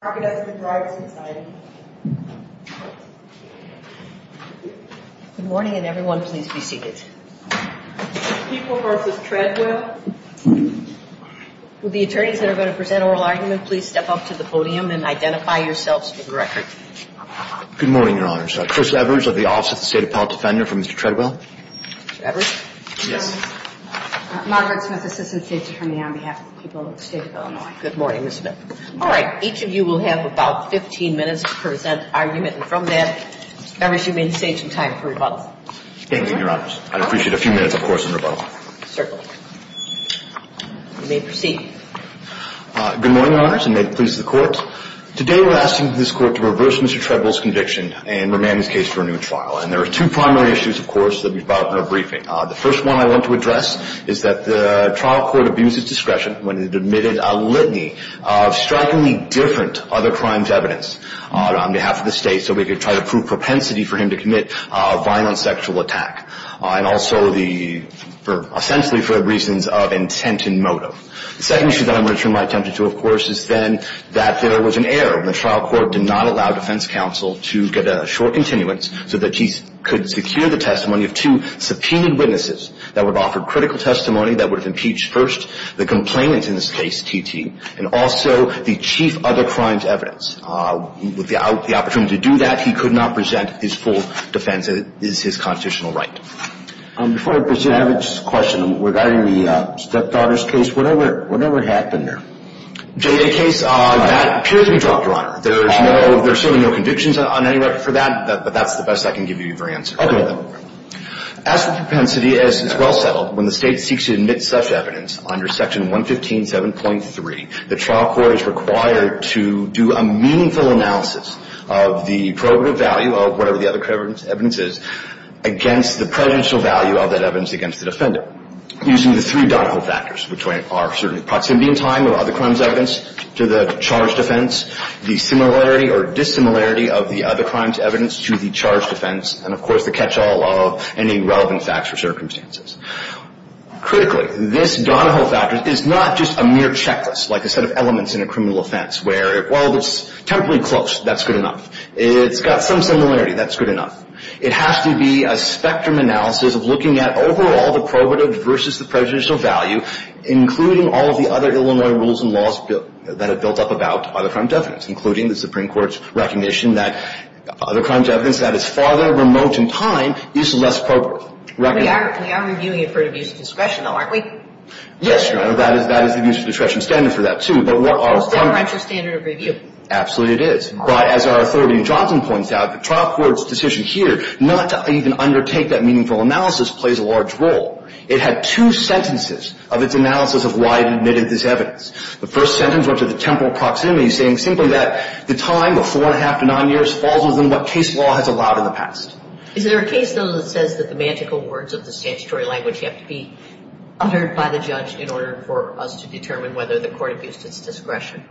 conversation. The attorneys that are going to present oral arguments please step up to the podium and identify yourselves to the record. Good morning, your honors. Chris Evers of the office of the State of Appellate Defender for Mr. Treadwell. Yes. Margaret Smith, Assistant State Attorney on behalf of the people of the State of Illinois. Good morning, Ms. Smith. All right, each of you will have about 15 minutes to present an argument and from that, Mr. Evers, you may save some time for rebuttal. Thank you, your honors. I'd appreciate a few minutes, of course, in rebuttal. Certainly. You may proceed. Good morning, your honors, and may it please the court. Today we're asking this court to reverse Mr. Treadwell's conviction and remand his case for a new trial. And there are two primary issues, of course, that we've brought up in our briefing. The first one I want to address is that the trial court abused its discretion when it admitted a litany of strikingly different other crimes evidence on behalf of the state so we could try to prove propensity for him to commit a violent sexual attack and also essentially for reasons of intent and motive. The second issue that I'm going to turn my attention to, of course, is then that there was an error. The trial court did not allow defense counsel to get a short continuance so that he could secure the testimony of two subpoenaed witnesses that would offer critical testimony that would have impeached first the complainant in this case, T.T., and also the chief other crimes evidence. Without the opportunity to do that, he could not present his full defense as his constitutional right. Before I present, I have a question regarding the stepdaughter's case. What happened there? The stepdaughter's case, that appears to be dropped, Your Honor. There's certainly no convictions on any record for that, but that's the best I can give you for your answer. Okay. As for propensity, as is well settled, when the state seeks to admit such evidence under Section 115.7.3, the trial court is required to do a meaningful analysis of the probative value of whatever the other evidence is against the presidential value of that evidence against the defendant using the three Donahoe factors, which are certainly proximity in time of other crimes evidence to the charged offense, the similarity or dissimilarity of the other crimes evidence to the charged offense, and, of course, the catch-all of any relevant facts or circumstances. Critically, this Donahoe factor is not just a mere checklist, like a set of elements in a criminal offense where, well, it's temporally close. That's good enough. It's got some similarity. That's good enough. It has to be a spectrum analysis of looking at overall the probative versus the presidential value, including all of the other Illinois rules and laws that are built up about other crime evidence, including the Supreme Court's recognition that other crime evidence that is farther remote in time is less probable. We are reviewing it for an abuse of discretion, though, aren't we? Yes, Your Honor, that is an abuse of discretion standard for that, too. But we're almost never at your standard of review. Absolutely it is. But as our authority in Johnson points out, the trial court's decision here not to even undertake that meaningful analysis plays a large role. It had two sentences of its analysis of why it admitted this evidence. The first sentence went to the temporal proximity, saying simply that the time of four and a half to nine years falls within what case law has allowed in the past. Is there a case, though, that says that the magical words of the statutory language have to be uttered by the judge in order for us to determine whether the court abused its discretion?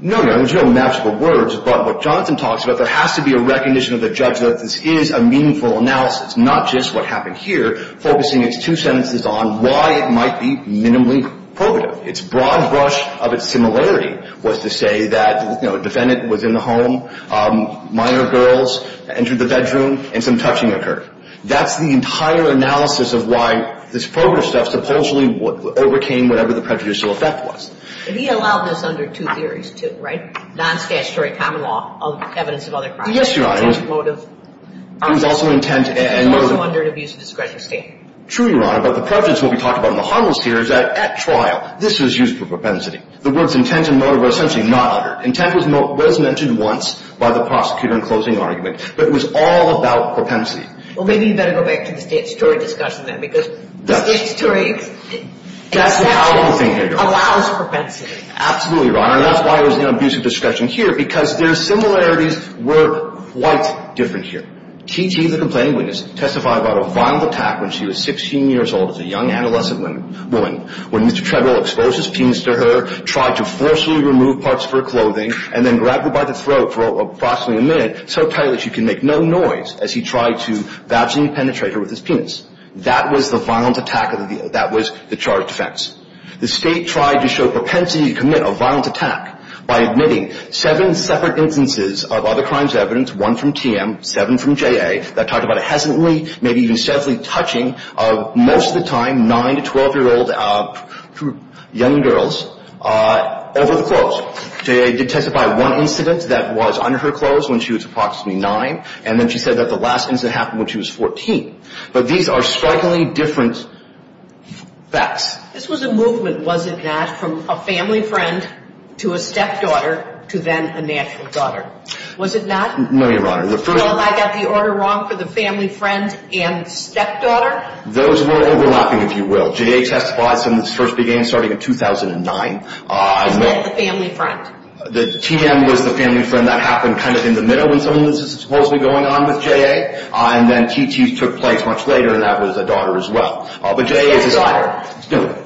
No, Your Honor, there's no magical words, but what Johnson talks about, there has to be a recognition of the judge that this is a meaningful analysis, not just what happened here, focusing its two sentences on why it might be minimally probative. Its broad brush of its similarity was to say that, you know, a defendant was in the home, minor girls entered the bedroom, and some touching occurred. That's the entire analysis of why this probative stuff supposedly overcame whatever the prejudicial effect was. And he allowed this under two theories, too, right? Non-statutory common law, evidence of other crimes. Yes, Your Honor, it was also intent and motive. It was also under an abuse of discretion statement. True, Your Honor, but the prejudice, what we talked about in the Huddles here, is that at trial, this was used for propensity. The words intent and motive were essentially not uttered. Intent was mentioned once by the prosecutor in closing argument, but it was all about propensity. Well, maybe you better go back to the statutory discussion then, because the statutory exception allows propensity. Absolutely, Your Honor, and that's why it was in abuse of discretion here, because their similarities were quite different here. T.T., the complaining witness, testified about a violent attack when she was 16 years old as a young adolescent woman, when Mr. Treadwell exposed his penis to her, tried to forcibly remove parts of her clothing, and then grabbed her by the throat for approximately a minute, so tight that she could make no noise, as he tried to vaginally penetrate her with his penis. That was the violent attack, that was the charged offense. The State tried to show propensity to commit a violent attack by admitting seven separate instances of other crimes of evidence, one from TM, seven from JA, that talked about a hesitantly, maybe even savagely touching of, most of the time, nine to 12-year-old young girls over the clothes. JA did testify of one incident that was under her clothes when she was approximately nine, and then she said that the last incident happened when she was 14. But these are strikingly different facts. This was a movement, was it not, from a family friend to a stepdaughter to then a natural daughter. Was it not? No, Your Honor. Well, I got the order wrong for the family friend and stepdaughter? Those were overlapping, if you will. JA testified since this first began starting in 2009. Is that the family friend? The TM was the family friend. That happened kind of in the middle when some of this was supposedly going on with JA, and then TT took place much later, and that was a daughter as well. But JA is a stepdaughter. No,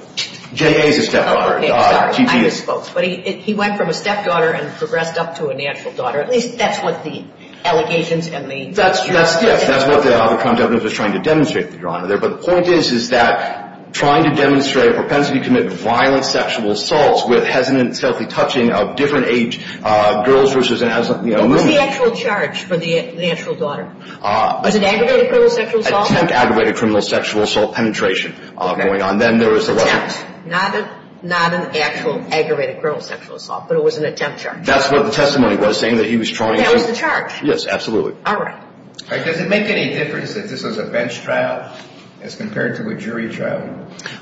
JA is a stepdaughter. Okay, sorry, I misspoke. But he went from a stepdaughter and progressed up to a natural daughter. At least that's what the allegations and the... That's what the crime definitely was trying to demonstrate, Your Honor. But the point is, is that trying to demonstrate a propensity to commit violent sexual assaults with hesitant and stealthy touching of different age girls versus a woman... What was the actual charge for the natural daughter? Was it aggravated criminal sexual assault? Attempt aggravated criminal sexual assault penetration going on. Then there was the... Attempt, not an actual aggravated criminal sexual assault, but it was an attempt charge. That's what the testimony was saying, that he was trying to... That was the charge? Yes, absolutely. All right. Does it make any difference that this was a bench trial as compared to a jury trial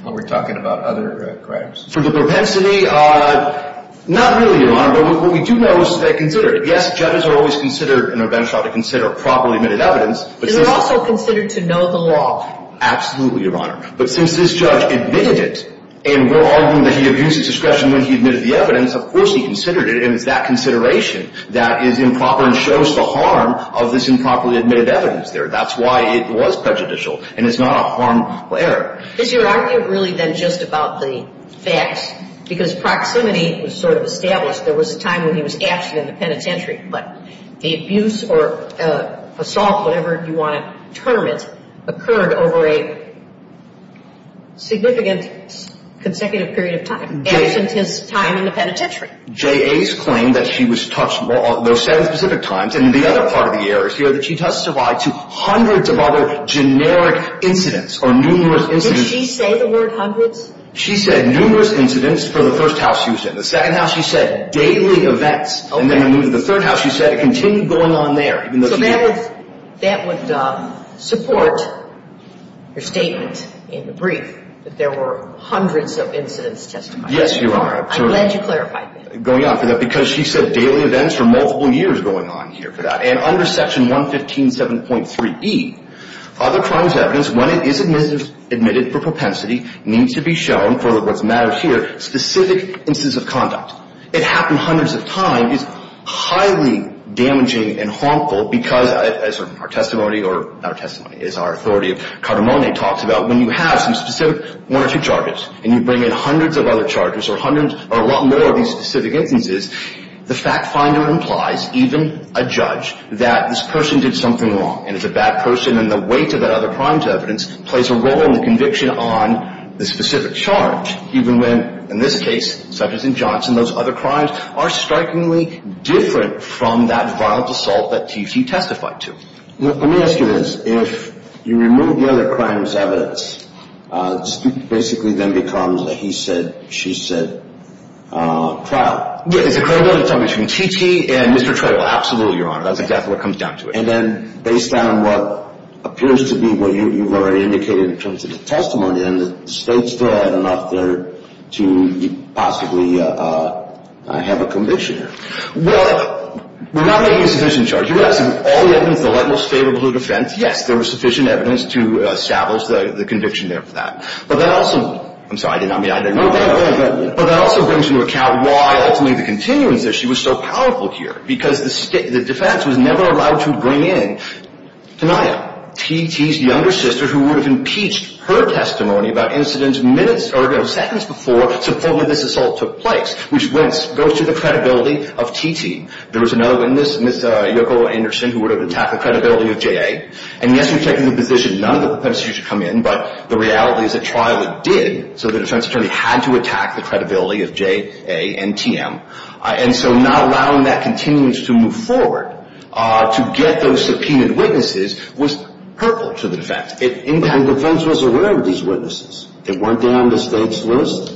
when we're talking about other crimes? For the propensity, not really, Your Honor. But what we do know is that they considered it. Yes, judges are always considered in a bench trial to consider properly admitted evidence. And they're also considered to know the law. Absolutely, Your Honor. But since this judge admitted it, and we're arguing that he abused his discretion when he admitted the evidence, of course he considered it, and it's that consideration that is improper and shows the harm of this improperly admitted evidence there. That's why it was prejudicial, and it's not a harmful error. Is your argument really then just about the facts? Because proximity was sort of established. There was a time when he was absent in the penitentiary. But the abuse or assault, whatever you want to term it, occurred over a significant consecutive period of time, absent his time in the penitentiary. J.A.'s claim that she was touched on those seven specific times, and the other part of the error is here that she testified to hundreds of other generic incidents or numerous incidents. Did she say the word hundreds? She said numerous incidents for the first house she was in. The second house, she said daily events. And then when we moved to the third house, she said it continued going on there. So that would support your statement in the brief that there were hundreds of incidents testified. Yes, Your Honor. I'm glad you clarified that. Going on for that, because she said daily events for multiple years going on here for that. And under Section 115.7.3e, other crimes evidence, when it is admitted for propensity, needs to be shown for what's mattered here, specific instances of conduct. It happened hundreds of times, is highly damaging and harmful because, as our testimony, or not our testimony, as our authority of category talks about, when you have some specific one or two charges, and you bring in hundreds of other charges or hundreds or a lot more of these specific instances, the fact finder implies, even a judge, that this person did something wrong. And if a bad person and the weight of that other crimes evidence plays a role in the conviction on the specific charge, even when, in this case, such as in Johnson, those other crimes are strikingly different from that violent assault that she testified to. Let me ask you this. If you remove the other crimes evidence, basically then becomes what he said, she said, trial. Yeah, it's a credibility testimony between T.T. and Mr. Trayvill. Absolutely, Your Honor. That's exactly what comes down to it. And then, based on what appears to be what you've already indicated in terms of the testimony, then the state still had enough there to possibly have a conviction here. Well, we're not making a sufficient charge. You have all the evidence, the light, most favorable defense. Yes, there was sufficient evidence to establish the conviction there for that. But that also, I'm sorry, I didn't mean to interrupt. But that also brings into account why, ultimately, the continuance issue was so powerful here. Because the defense was never allowed to bring in Tanaya, T.T.'s younger sister, who would have impeached her testimony about incidents minutes, or no, seconds before supposedly this assault took place, which goes to the credibility of T.T. There was another witness, Ms. Yoko Anderson, who would have attacked the credibility of J.A. And, yes, we've taken the position none of the perpetrators should come in. But the reality is, at trial, it did. So, the defense attorney had to attack the credibility of J.A. and T.M. And so, not allowing that continuance to move forward, to get those subpoenaed witnesses, was hurtful to the defense. The defense was aware of these witnesses. Weren't they on the state's list?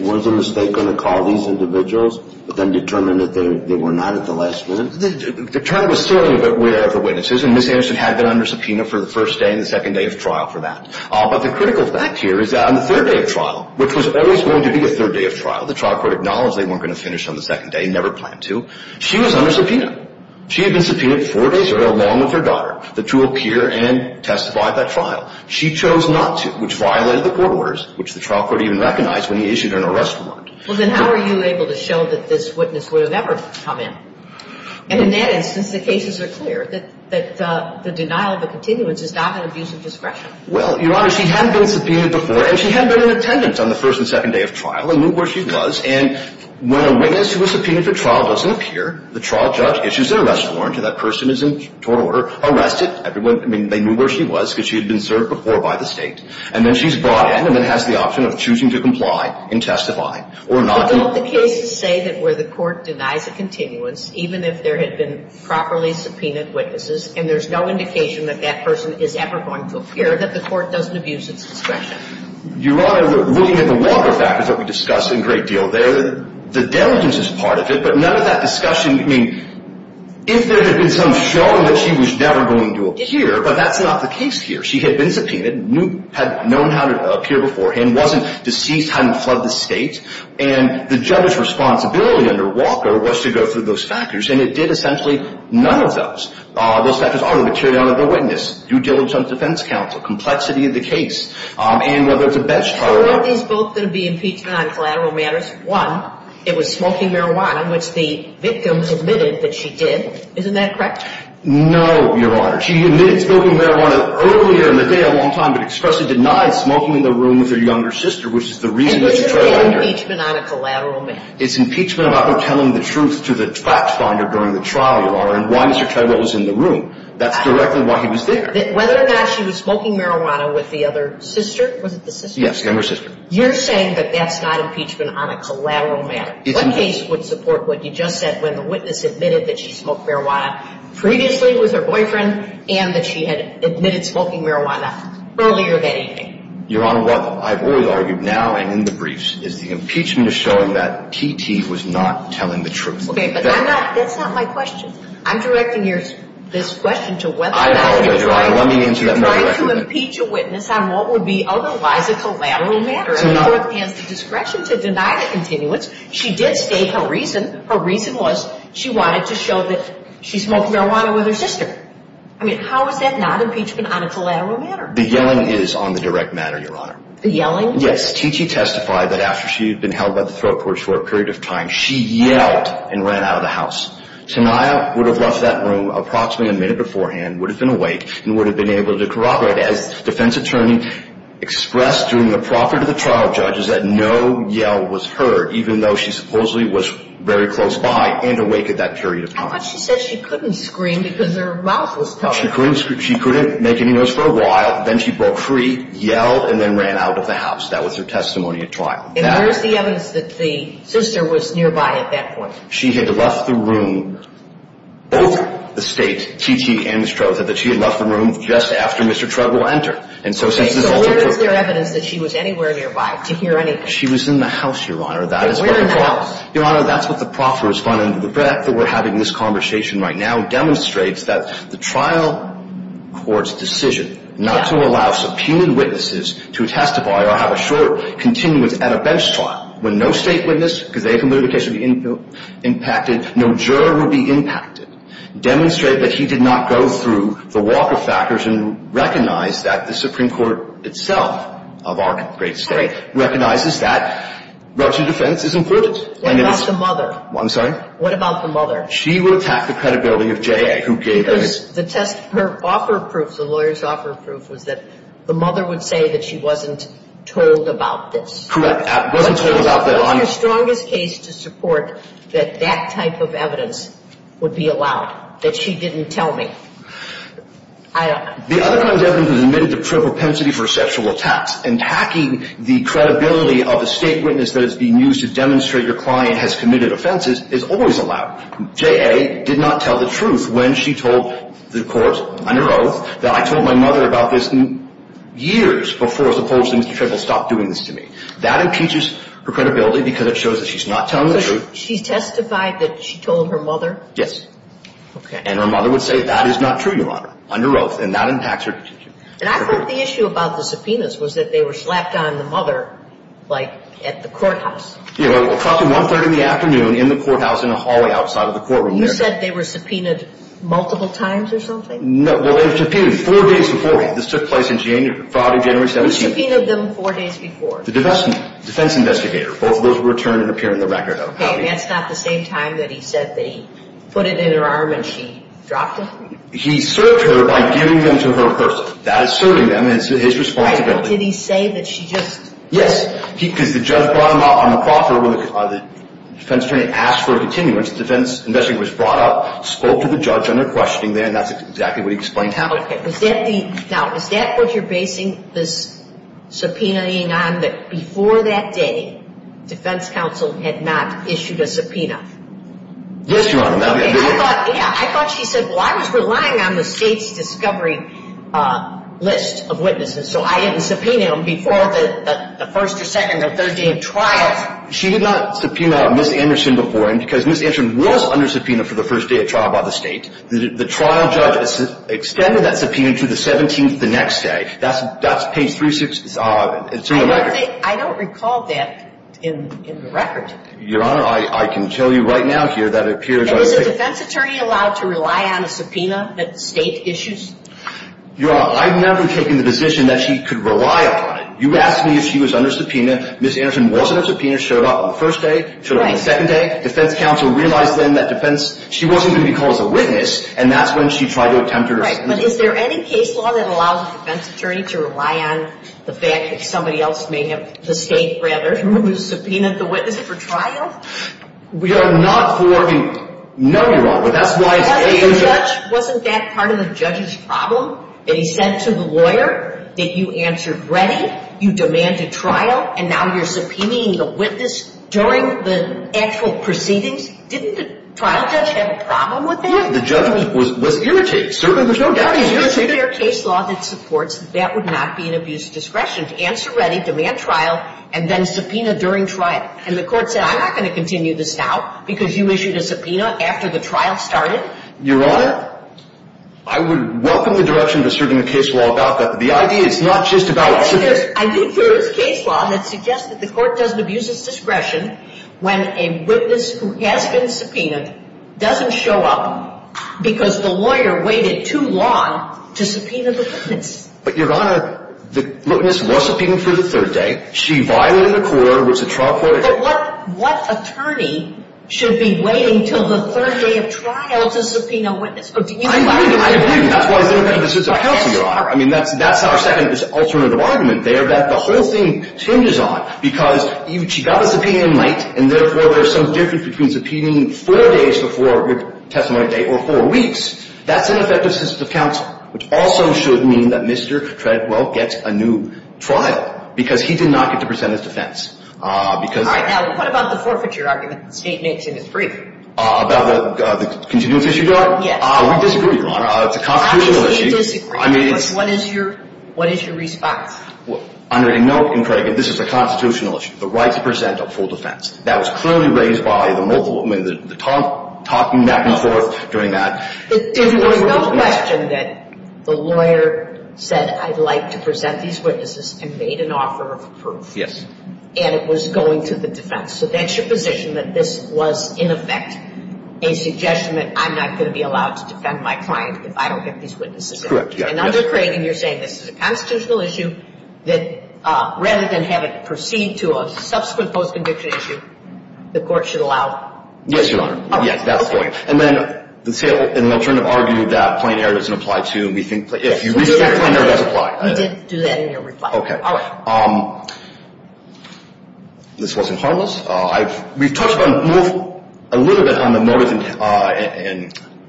Was the state going to call these individuals, but then determine that they were not at the last minute? The attorney was still aware of the witnesses. And Ms. Anderson had been under subpoena for the first day and the second day of trial for that. But the critical fact here is that on the third day of trial, which was always going to be a third day of trial, the trial court acknowledged they weren't going to finish on the second day, never planned to, she was under subpoena. She had been subpoenaed four days earlier, along with her daughter, to appear and testify at that trial. She chose not to, which violated the court orders, which the trial court even recognized when he issued an arrest warrant. Well, then how were you able to show that this witness would have ever come in? And in that instance, the cases are clear that the denial of a continuance is not an abuse of discretion. Well, Your Honor, she had been subpoenaed before, and she had been in attendance on the first and second day of trial, and knew where she was. And when a witness who was subpoenaed for trial doesn't appear, the trial judge issues an arrest warrant, and that person is in tort order, arrested. I mean, they knew where she was because she had been served before by the state. And then she's brought in and then has the option of choosing to comply and testify or not. So the cases say that where the court denies a continuance, even if there had been properly subpoenaed witnesses, and there's no indication that that person is ever going to appear, that the court doesn't abuse its discretion. Your Honor, looking at the water factors that we discussed a great deal there, the diligence is part of it, but none of that discussion, I mean, if there had been some showing that she was never going to appear, but that's not the case here. She had been subpoenaed, had known how to appear beforehand, wasn't deceased, hadn't fled the state. And the judge's responsibility under Walker was to go through those factors, and it did essentially none of those. Those factors are the materiality of the witness, due diligence on the defense counsel, complexity of the case, and whether it's a bench trial or not. So weren't these both going to be impeachment on collateral matters? One, it was smoking marijuana, which the victims admitted that she did. Isn't that correct? No, Your Honor. She admitted smoking marijuana earlier in the day a long time, but expressly denied smoking in the room with her younger sister, which is the reason that you're trying to argue here. It was just an impeachment on a collateral matter. It's impeachment about her telling the truth to the fact finder during the trial, Your Honor, and why Mr. Treloar was in the room. That's directly why he was there. Whether or not she was smoking marijuana with the other sister, was it the sister? Yes, younger sister. You're saying that that's not impeachment on a collateral matter. What case would support what you just said when the witness admitted that she smoked marijuana previously with her boyfriend and that she had admitted smoking marijuana earlier that evening? Your Honor, what I've always argued now and in the briefs is the impeachment is showing that T.T. was not telling the truth. Okay, but that's not my question. I'm directing this question to whether or not she was trying to impeach a witness on what would be otherwise a collateral matter. And the court has the discretion to deny the continuance. She did state her reason. Her reason was she wanted to show that she smoked marijuana with her sister. I mean, how is that not impeachment on a collateral matter? The yelling is on the direct matter, Your Honor. The yelling? Yes, T.T. testified that after she had been held by the throat court for a period of time, she yelled and ran out of the house. Tania would have left that room approximately a minute beforehand, would have been awake, and would have been able to corroborate. As defense attorney expressed during the property of the trial, judges, that no yell was heard, even though she supposedly was very close by and awake at that period of time. She couldn't make any noise for a while, then she broke free, yelled, and then ran out of the house. That was her testimony at trial. And where is the evidence that the sister was nearby at that point? She had left the room, both the state, T.T. and Ms. Trotha, that she had left the room just after Mr. Trotha entered. And so since this is all true- So where is there evidence that she was anywhere nearby to hear anything? She was in the house, Your Honor. That is what- And where in the house? Your Honor, that's what the property responding to the threat that we're having this conversation right now is the Supreme Court's decision not to allow subpoenaed witnesses to testify or have a short continuance at a bench trial when no state witness, because they can literally be impacted, no juror will be impacted, demonstrate that he did not go through the walk of factors and recognize that the Supreme Court itself, of our great state, recognizes that relative defense is important. What about the mother? I'm sorry? What about the mother? She will attack the credibility of J.A. who gave evidence- The test- Her offer of proof, the lawyer's offer of proof, was that the mother would say that she wasn't told about this. Correct. Wasn't told about that on- What was your strongest case to support that that type of evidence would be allowed? That she didn't tell me? The other kind of evidence was admitted to prove propensity for sexual attacks. And hacking the credibility of a state witness that is being used to demonstrate your client has committed offenses is always allowed. J.A. did not tell the truth when she told the court under oath that I told my mother about this years before supposedly Mr. Trayvill stopped doing this to me. That impeaches her credibility because it shows that she's not telling the truth. She testified that she told her mother? Yes. Okay. And her mother would say that is not true, Your Honor, under oath. And that impacts her- And I thought the issue about the subpoenas was that they were slapped on the mother, like, at the courthouse. You know, approximately one-third in the afternoon in the courthouse in a hallway outside of the courtroom there. You said they were subpoenaed multiple times or something? No, well, they were subpoenaed four days before. This took place in January, Friday, January 17th. Who subpoenaed them four days before? The defense investigator. Both of those were returned and appear in the record of how they- Okay, and that's not the same time that he said that he put it in her arm and she dropped it? He served her by giving them to her in person. That is serving them, and it's his responsibility. Did he say that she just- Yes. Because the judge brought them out on the property where the defense attorney asked for a continuance. The defense investigator was brought up, spoke to the judge on their questioning there, and that's exactly what he explained to her. Okay, was that the- Now, is that what you're basing this subpoenaing on, that before that day, defense counsel had not issued a subpoena? Yes, Your Honor, that would be the case. I thought she said, well, I was relying on the state's discovery list of witnesses, so I didn't subpoena them before the first or second or third day of trial. She did not subpoena Ms. Anderson before, and because Ms. Anderson was under subpoena for the first day of trial by the state, the trial judge extended that subpoena to the 17th the next day. That's page 36- I don't recall that in the record. Your Honor, I can tell you right now here that it appears- Is a defense attorney allowed to rely on a subpoena that the state issues? Your Honor, I've never taken the position that she could rely upon it. You asked me if she was under subpoena. Ms. Anderson was under subpoena, showed up on the first day, showed up on the second day. Defense counsel realized then that defense- she wasn't going to be called as a witness, and that's when she tried to attempt her- Right, but is there any case law that allows a defense attorney to rely on the fact that somebody else may have- the state, rather, who subpoenaed the witness for trial? We are not for- no, Your Honor, that's why- Wasn't that part of the judge's problem? That he said to the lawyer that you answered ready, you demanded trial, and now you're subpoenaing the witness during the actual proceedings? Didn't the trial judge have a problem with that? Yeah, the judge was irritated. Certainly, there's no doubt he's irritated. Is there a case law that supports that that would not be an abuse of discretion, to answer ready, demand trial, and then subpoena during trial? And the court said, I'm not going to continue this now, because you issued a subpoena after the trial started. Your Honor, I would welcome the direction of asserting a case law about that, but the idea is not just about- I mean, there is case law that suggests that the court doesn't abuse its discretion when a witness who has been subpoenaed doesn't show up because the lawyer waited too long to subpoena the witness. But, Your Honor, the witness was subpoenaed for the third day. She violated the court. It was a trial court- But what attorney should be waiting until the third day of trial to subpoena a witness? I agree. I agree. That's why it's ineffective assistance of counsel, Your Honor. I mean, that's our second alternative argument there that the whole thing changes on, because she got a subpoena in late, and therefore there's some difference between subpoenaing four days before your testimony date or four weeks. That's ineffective assistance of counsel, which also should mean that Mr. Treadwell gets a new trial, because he did not get to present his defense. All right. Now, what about the forfeiture argument that the State makes in its brief? About the continuous issue, Your Honor? Yes. We disagree, Your Honor. It's a constitutional issue. Obviously you disagree. What is your response? Under a note, and Craig, this is a constitutional issue, the right to present a full defense. That was clearly raised by the multiple, I mean, the talking back and forth during that. There was no question that the lawyer said, I'd like to present these witnesses and made an offer of proof. Yes. And it was going to the defense. So that's your position, that this was, in effect, a suggestion that I'm not going to be allowed to defend my client if I don't get these witnesses in. Correct. Yes. And under Craig, and you're saying this is a constitutional issue, that rather than have it proceed to a subsequent post-conviction issue, the court should allow it? Yes, Your Honor. All right. Okay. Yes, that's the point. And then the State, in the alternative, argued that plain error doesn't apply to me. If you restrict plain error, it does apply. We did do that in your reply. Okay. All right. This wasn't harmless. We've talked about, moved a little bit on the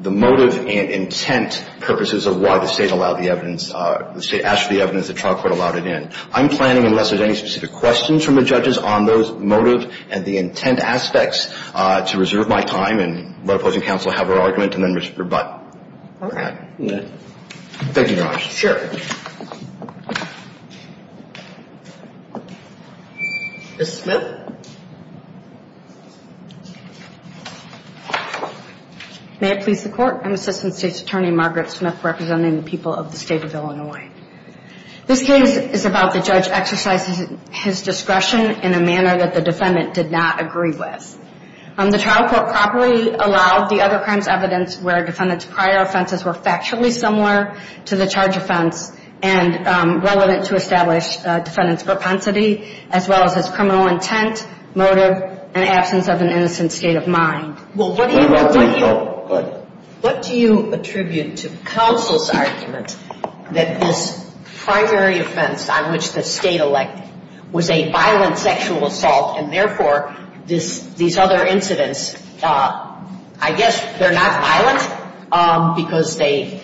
motive and intent purposes of why the State allowed the evidence, the State asked for the evidence, the trial court allowed it in. I'm planning, unless there's any specific questions from the judges on those motives and the intent aspects, to reserve my time and let opposing counsel have her argument and then rebut. Thank you, Your Honor. Sure. Ms. Smith. May it please the Court. I'm Assistant State's Attorney Margaret Smith, representing the people of the State of Illinois. This case is about the judge exercising his discretion in a manner that the defendant did not agree with. The trial court properly allowed the other crimes evidence where defendant's prior offenses were factually similar to the charge offense, and relevant to establish defendant's propensity, as well as his criminal intent, motive, and absence of an innocent state of mind. Well, what do you attribute to counsel's argument that this primary offense on which the State elected was a violent sexual assault, and therefore, these other incidents, I guess they're not violent because they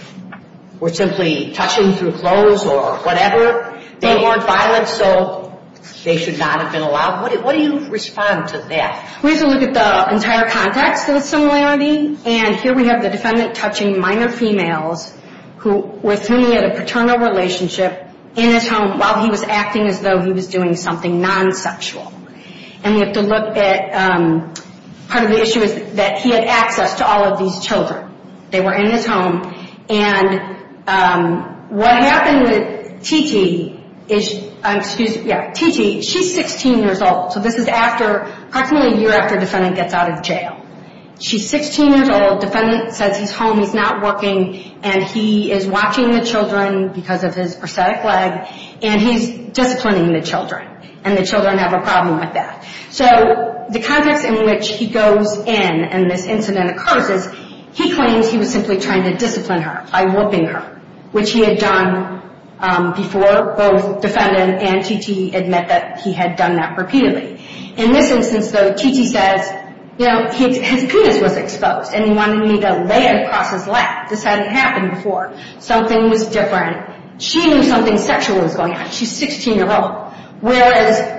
were simply touching through clothes or whatever. They weren't violent, so they should not have been allowed. What do you respond to that? We have to look at the entire context of the similarity. And here we have the defendant touching minor females with whom he had a paternal relationship in his home while he was acting as though he was doing something non-sexual. And we have to look at, part of the issue is that he had access to all of these children. They were in his home, and what happened with T.T. is, excuse me, T.T., she's 16 years old. So this is after, approximately a year after defendant gets out of jail. She's 16 years old, defendant says he's home, he's not working, and he is watching the children because of his prosthetic leg, and he's disciplining the children, and the children have a problem with that. So the context in which he goes in and this incident occurs is he claims he was simply trying to discipline her by whooping her, which he had done before both defendant and T.T. admit that he had done that repeatedly. In this instance, though, T.T. says, you know, his penis was exposed, and he wanted me to lay it across his lap. This hadn't happened before. Something was different. She knew something sexual was going on. She's 16 years old, whereas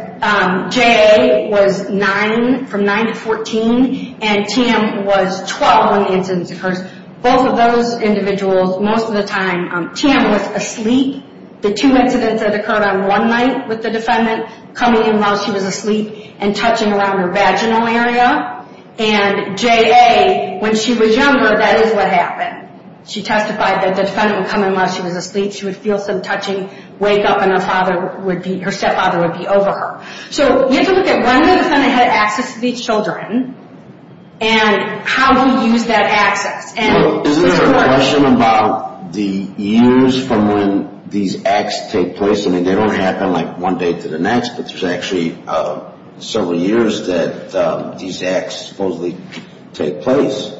J.A. was 9, from 9 to 14, and T.M. was 12 when the incident occurred. Both of those individuals, most of the time, T.M. was asleep. The two incidents that occurred on one night with the defendant, coming in while she was asleep and touching around her vaginal area, and J.A., when she was younger, that is what happened. She testified that the defendant would come in while she was asleep. She would feel some touching, wake up, and her stepfather would be over her. So you have to look at when the defendant had access to these children and how he used that access. Isn't there a question about the years from when these acts take place? I mean, they don't happen like one day to the next, but there's actually several years that these acts supposedly take place.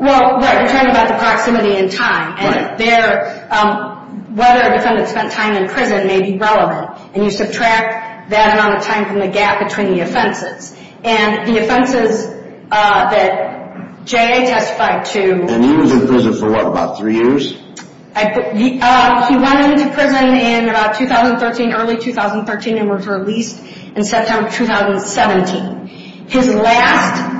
Well, right, you're talking about the proximity in time, and whether a defendant spent time in prison may be relevant, and you subtract that amount of time from the gap between the offenses. And the offenses that J.A. testified to— And he was in prison for what, about three years? He went into prison in about 2013, early 2013, and was released in September of 2017. His last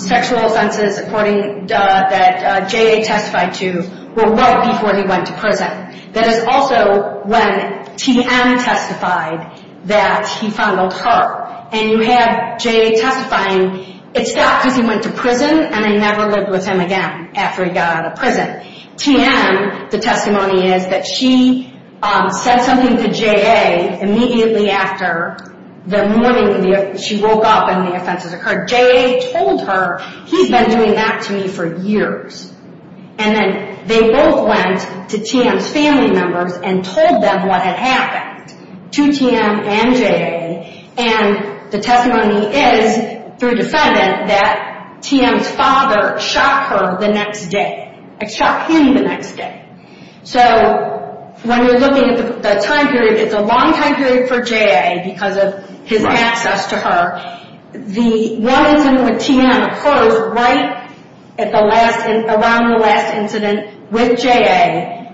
sexual offenses, according to what J.A. testified to, were well before he went to prison. That is also when T.M. testified that he fondled her. And you have J.A. testifying, it stopped because he went to prison, and they never lived with him again after he got out of prison. T.M., the testimony is that she said something to J.A. immediately after the morning she woke up and the offenses occurred. J.A. told her, he's been doing that to me for years. And then they both went to T.M.'s family members and told them what had happened to T.M. and J.A., And the testimony is, through defendant, that T.M.'s father shot her the next day. Shot him the next day. So, when you're looking at the time period, it's a long time period for J.A. because of his access to her. The one incident with T.M. occurs right around the last incident with J.A.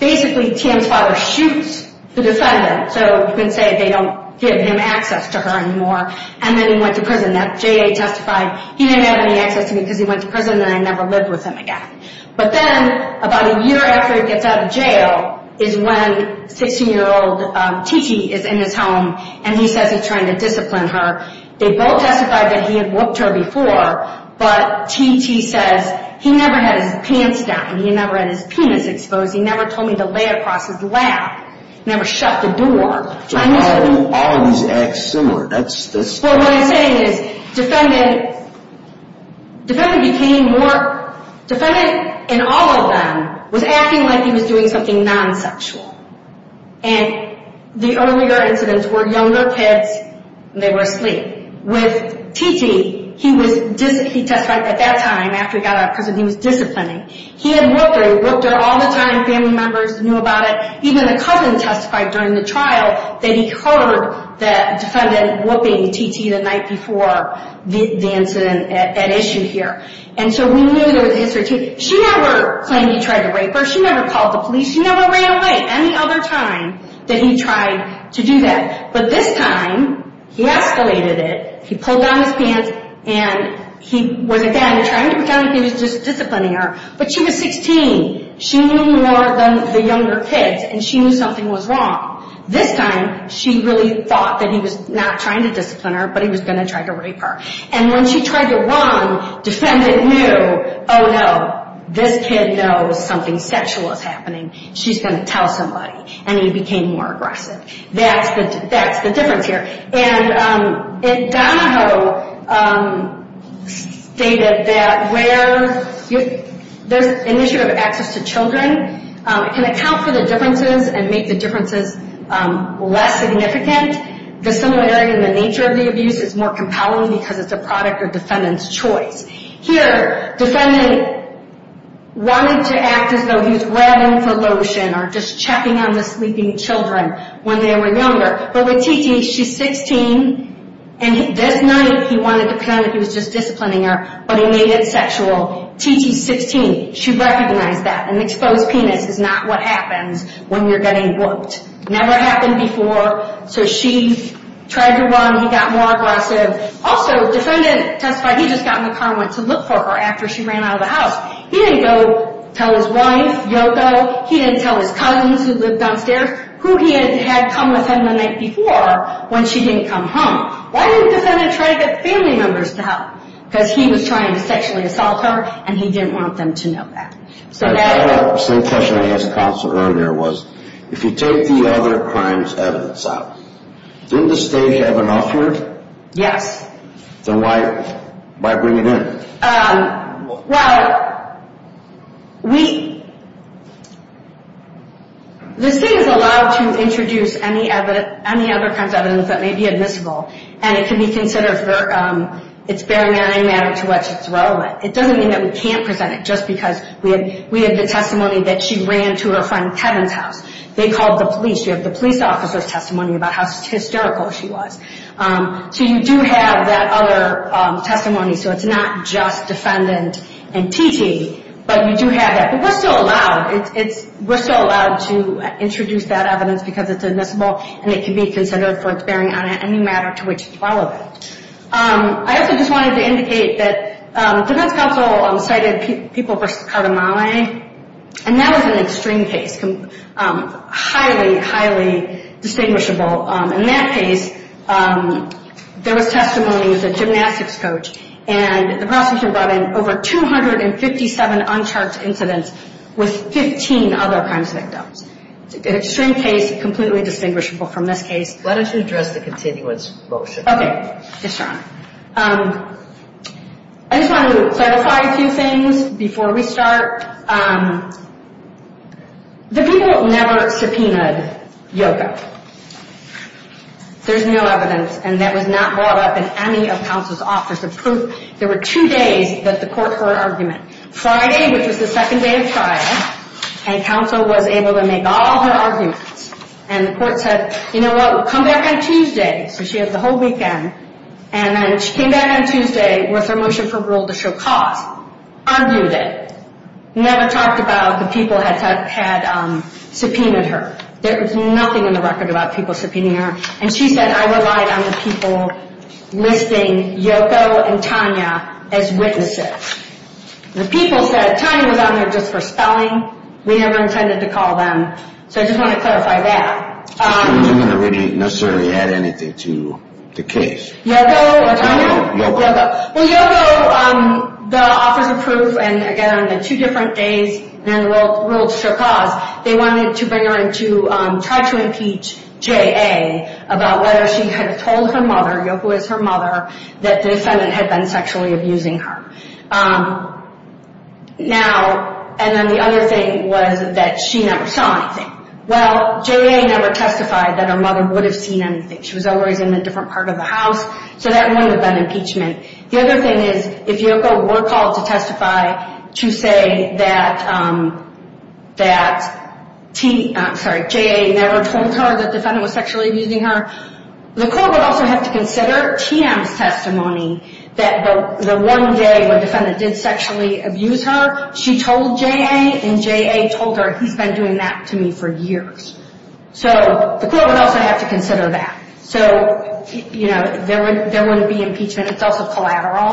Basically, T.M.'s father shoots the defendant, so you can say they don't give him access to her anymore, and then he went to prison. J.A. testified, he didn't have any access to me because he went to prison and I never lived with him again. But then, about a year after he gets out of jail is when 16-year-old T.T. is in his home and he says he's trying to discipline her. They both testified that he had whooped her before, but T.T. says he never had his pants down. He never had his penis exposed. He never told me to lay across his lap. He never shut the door. So, all of these acts similar. That's... Well, what I'm saying is, defendant became more... Defendant, in all of them, was acting like he was doing something non-sexual. And the earlier incidents were younger kids, and they were asleep. With T.T., he testified at that time, after he got out of prison, he was disciplining. He had whooped her. He whooped her all the time. Family members knew about it. Even the cousin testified during the trial that he heard the defendant whooping T.T. the night before the incident, that issue here. And so, we knew there was a history. She never claimed he tried to rape her. She never called the police. She never ran away any other time that he tried to do that. But this time, he escalated it. He pulled down his pants, and he was, again, trying to pretend like he was just disciplining her. But she was 16. She knew more than the younger kids, and she knew something was wrong. This time, she really thought that he was not trying to discipline her, but he was going to try to rape her. And when she tried to run, defendant knew, oh, no, this kid knows something sexual is happening. She's going to tell somebody, and he became more aggressive. That's the difference here. And Donahoe stated that where there's initiative access to children, it can account for the differences and make the differences less significant. The similarity in the nature of the abuse is more compelling because it's a product of defendant's choice. Here, defendant wanted to act as though he was rubbing for lotion or just checking on the sleeping children when they were younger. But with Titi, she's 16, and this night, he wanted to pretend like he was just disciplining her, but he made it sexual. Titi's 16. She recognized that. An exposed penis is not what happens when you're getting whooped. Never happened before. So she tried to run. He got more aggressive. Also, defendant testified he just got in the car and went to look for her after she ran out of the house. He didn't go tell his wife, Yoko. He didn't tell his cousins who lived downstairs who he had come with him the night before when she didn't come home. Why didn't defendant try to get family members to help? Because he was trying to sexually assault her, and he didn't want them to know that. The same question I asked counsel earlier was, if you take the other crimes evidence out, didn't the state have enough here? Yes. Then why bring it in? Well, we – the state is allowed to introduce any other crimes evidence that may be admissible, and it can be considered for – it's barring any matter to what's relevant. It doesn't mean that we can't present it just because we have the testimony that she ran to her friend Kevin's house. They called the police. You have the police officer's testimony about how hysterical she was. So you do have that other testimony, so it's not just defendant and TT, but you do have that. But we're still allowed. We're still allowed to introduce that evidence because it's admissible, and it can be considered for it's bearing on any matter to which it's relevant. I also just wanted to indicate that defense counsel cited People v. Cardamale, and that was an extreme case, highly, highly distinguishable. In that case, there was testimony with a gymnastics coach, and the prosecution brought in over 257 uncharged incidents with 15 other crimes victims. It's an extreme case, completely distinguishable from this case. Let us address the continuance motion. Okay. I just want to clarify a few things before we start. The people never subpoenaed Yoko. There's no evidence, and that was not brought up in any of counsel's office. The proof, there were two days that the court heard her argument. Friday, which was the second day of trial, and counsel was able to make all her arguments. And the court said, you know what, come back on Tuesday. So she had the whole weekend, and then she came back on Tuesday with her motion for rule to show cause. Argued it. Never talked about the people had subpoenaed her. There was nothing in the record about people subpoenaing her. And she said, I relied on the people listing Yoko and Tanya as witnesses. The people said Tanya was on there just for spelling. We never intended to call them. So I just want to clarify that. I wasn't going to really necessarily add anything to the case. Yoko. Yoko. Well, Yoko, the office approved, and again, on the two different days, and then rule to show cause, they wanted to bring her in to try to impeach J.A. about whether she had told her mother, Yoko is her mother, that the defendant had been sexually abusing her. Now, and then the other thing was that she never saw anything. Well, J.A. never testified that her mother would have seen anything. She was always in a different part of the house, so that wouldn't have been impeachment. The other thing is, if Yoko were called to testify to say that T, I'm sorry, J.A. never told her the defendant was sexually abusing her, the court would also have to consider TM's testimony that the one day when the defendant did sexually abuse her, she told J.A., and J.A. told her, he's been doing that to me for years. So the court would also have to consider that. So, you know, there wouldn't be impeachment. It's also collateral.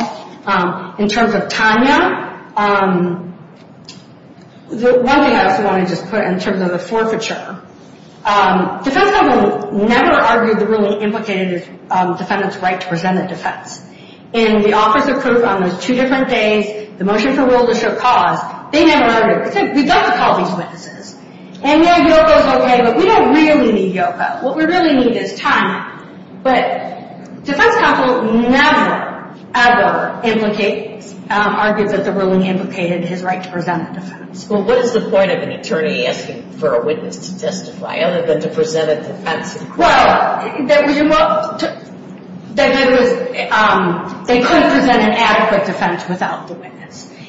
In terms of Tanya, one thing I also want to just put in terms of the forfeiture, defense counsel never argued the ruling implicated the defendant's right to present a defense. In the Office of Proof on those two different days, the motion for will to show cause, they never argued it. They said, we've got to call these witnesses. And, yeah, Yoko's okay, but we don't really need Yoko. What we really need is Tanya. But defense counsel never, ever implicated, argued that the ruling implicated his right to present a defense. Well, what is the point of an attorney asking for a witness to testify other than to present a defense? Well, they couldn't present an adequate defense without the witness.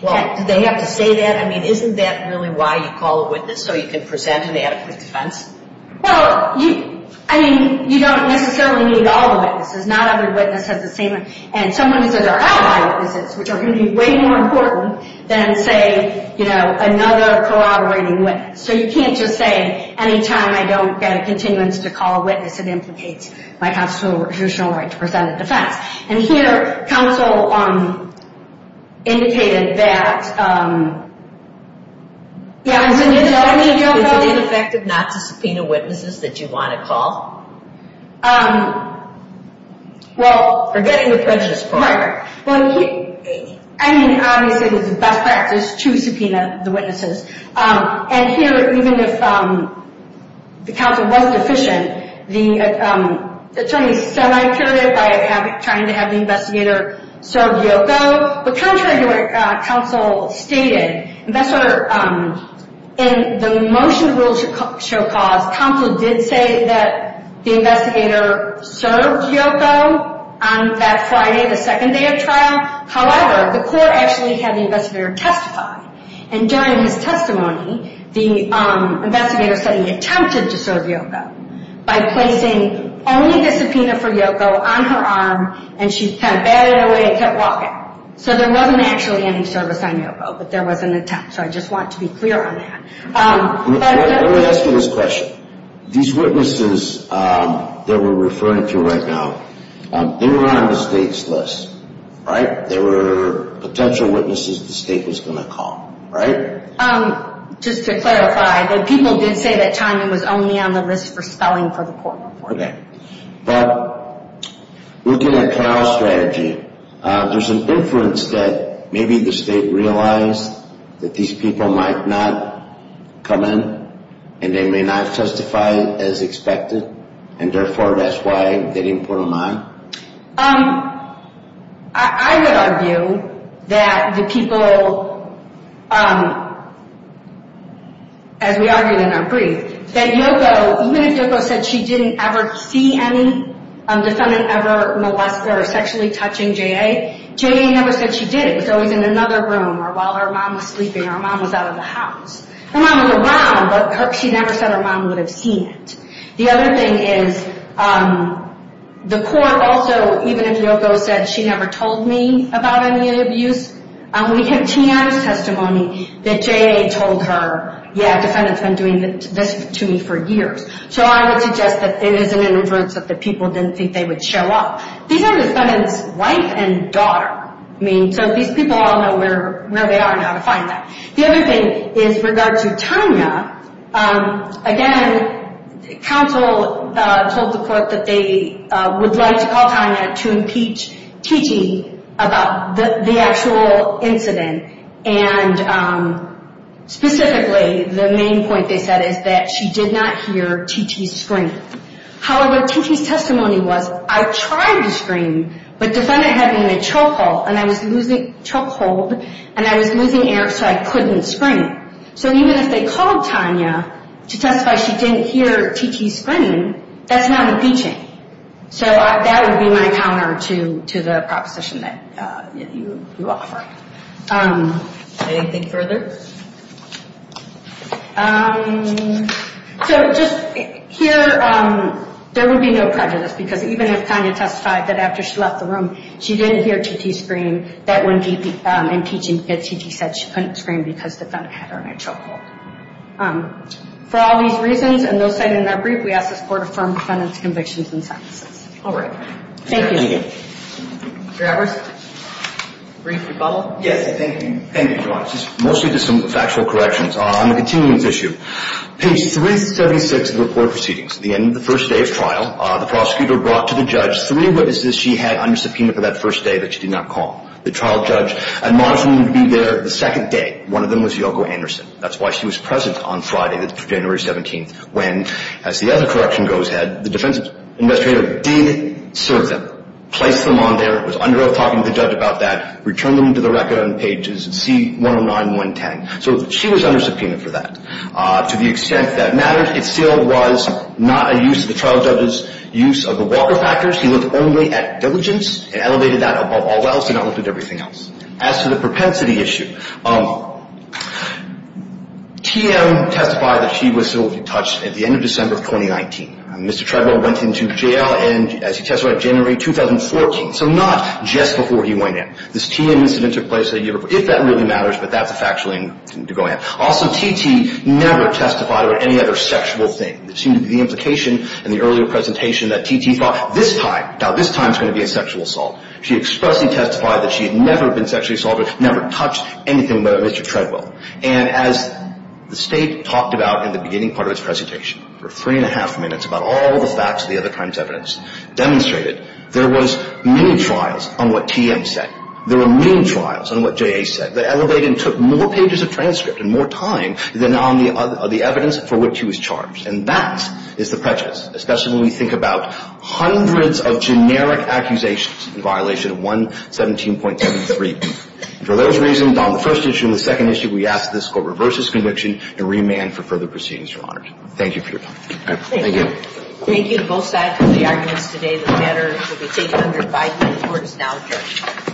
Do they have to say that? I mean, isn't that really why you call a witness, so you can present an adequate defense? Well, I mean, you don't necessarily need all the witnesses. Not every witness has the same. And some witnesses are ally witnesses, which are going to be way more important than, say, you know, another corroborating witness. So you can't just say, any time I don't get a continuance to call a witness, it implicates my constitutional right to present a defense. And here, counsel indicated that, yeah. Is it ineffective not to subpoena witnesses that you want to call? Well, forgetting the prejudice part. I mean, obviously, it was a best practice to subpoena the witnesses. And here, even if the counsel was deficient, the attorney semi-cured it by trying to have the investigator serve Yoko. But contrary to what counsel stated, in the motion to rule show cause, counsel did say that the investigator served Yoko on that Friday, the second day of trial. However, the court actually had the investigator testify. And during his testimony, the investigator said he attempted to serve Yoko by placing only the subpoena for Yoko on her arm, and she kind of batted away and kept walking. So there wasn't actually any service on Yoko, but there was an attempt. So I just want to be clear on that. Let me ask you this question. These witnesses that we're referring to right now, they were on the state's list, right? They were potential witnesses the state was going to call, right? Just to clarify, the people did say that Tyman was only on the list for spelling for the court report. Okay. But looking at Carroll's strategy, there's an inference that maybe the state realized that these people might not come in, and they may not testify as expected, and therefore, that's why they didn't put them on? I would argue that the people, as we argued in our brief, that Yoko, even if Yoko said she didn't ever see any defendant ever molest or sexually touching J.A., J.A. never said she did. It was always in another room or while her mom was sleeping or her mom was out of the house. Her mom was around, but she never said her mom would have seen it. The other thing is the court also, even if Yoko said she never told me about any abuse, we have Tyman's testimony that J.A. told her, yeah, defendant's been doing this to me for years. So I would suggest that it is an inference that the people didn't think they would show up. These are defendant's wife and daughter. So these people all know where they are now to find that. The other thing is with regard to Tanya, again, counsel told the court that they would like to call Tanya to impeach T.T. about the actual incident. And specifically, the main point they said is that she did not hear T.T. scream. However, T.T.'s testimony was, I tried to scream, but defendant had me in a chokehold, and I was losing air so I couldn't scream. So even if they called Tanya to testify she didn't hear T.T. scream, that's not impeaching. So that would be my counter to the proposition that you offer. Anything further? So just here, there would be no prejudice because even if Tanya testified that after she left the room, she didn't hear T.T. scream, that wouldn't be impeaching because T.T. said she couldn't scream because the defendant had her in a chokehold. For all these reasons and those cited in that brief, we ask this court to affirm defendant's convictions and sentences. All right. Thank you. Mr. Edwards? Brief rebuttal? Yes, thank you. Thank you, Joanna. Mostly just some factual corrections on the continuance issue. Page 376 of the court proceedings, the end of the first day of trial, the prosecutor brought to the judge three witnesses she had under subpoena for that first day that she did not call. The trial judge admonished them to be there the second day. One of them was Yoko Anderson. That's why she was present on Friday, January 17th, when, as the other correction goes ahead, the defense administrator did serve them, placed them on there, was under oath talking to the judge about that, returned them to the record on pages C-109 and 110. So she was under subpoena for that. To the extent that matters, it still was not a use of the trial judge's use of the Walker factors. He looked only at diligence and elevated that above all else and not looked at everything else. As to the propensity issue, TM testified that she was civilly detached at the end of December of 2019. Mr. Tredwell went into jail and, as he testified, January 2014, so not just before he went in. This TM incident took place a year before, if that really matters, but that's a factual thing to go ahead. Also, T.T. never testified about any other sexual thing. It seemed to be the implication in the earlier presentation that T.T. thought, this time, now this time it's going to be a sexual assault. She expressly testified that she had never been sexually assaulted, never touched anything by Mr. Tredwell. And as the state talked about in the beginning part of its presentation, for three and a half minutes, about all the facts of the other crimes evidenced, demonstrated, there was many trials on what TM said. There were many trials on what J.A. said. They elevated and took more pages of transcript and more time than on the evidence for which he was charged. And that is the prejudice, especially when we think about hundreds of generic accusations in violation of 117.73. For those reasons, on the first issue and the second issue, we ask that this Court reverse its conviction and remand for further proceedings, Your Honor. Thank you for your time. Thank you. Thank you to both sides for the arguments today. The matter will be taken under advice of the courts now, Judge.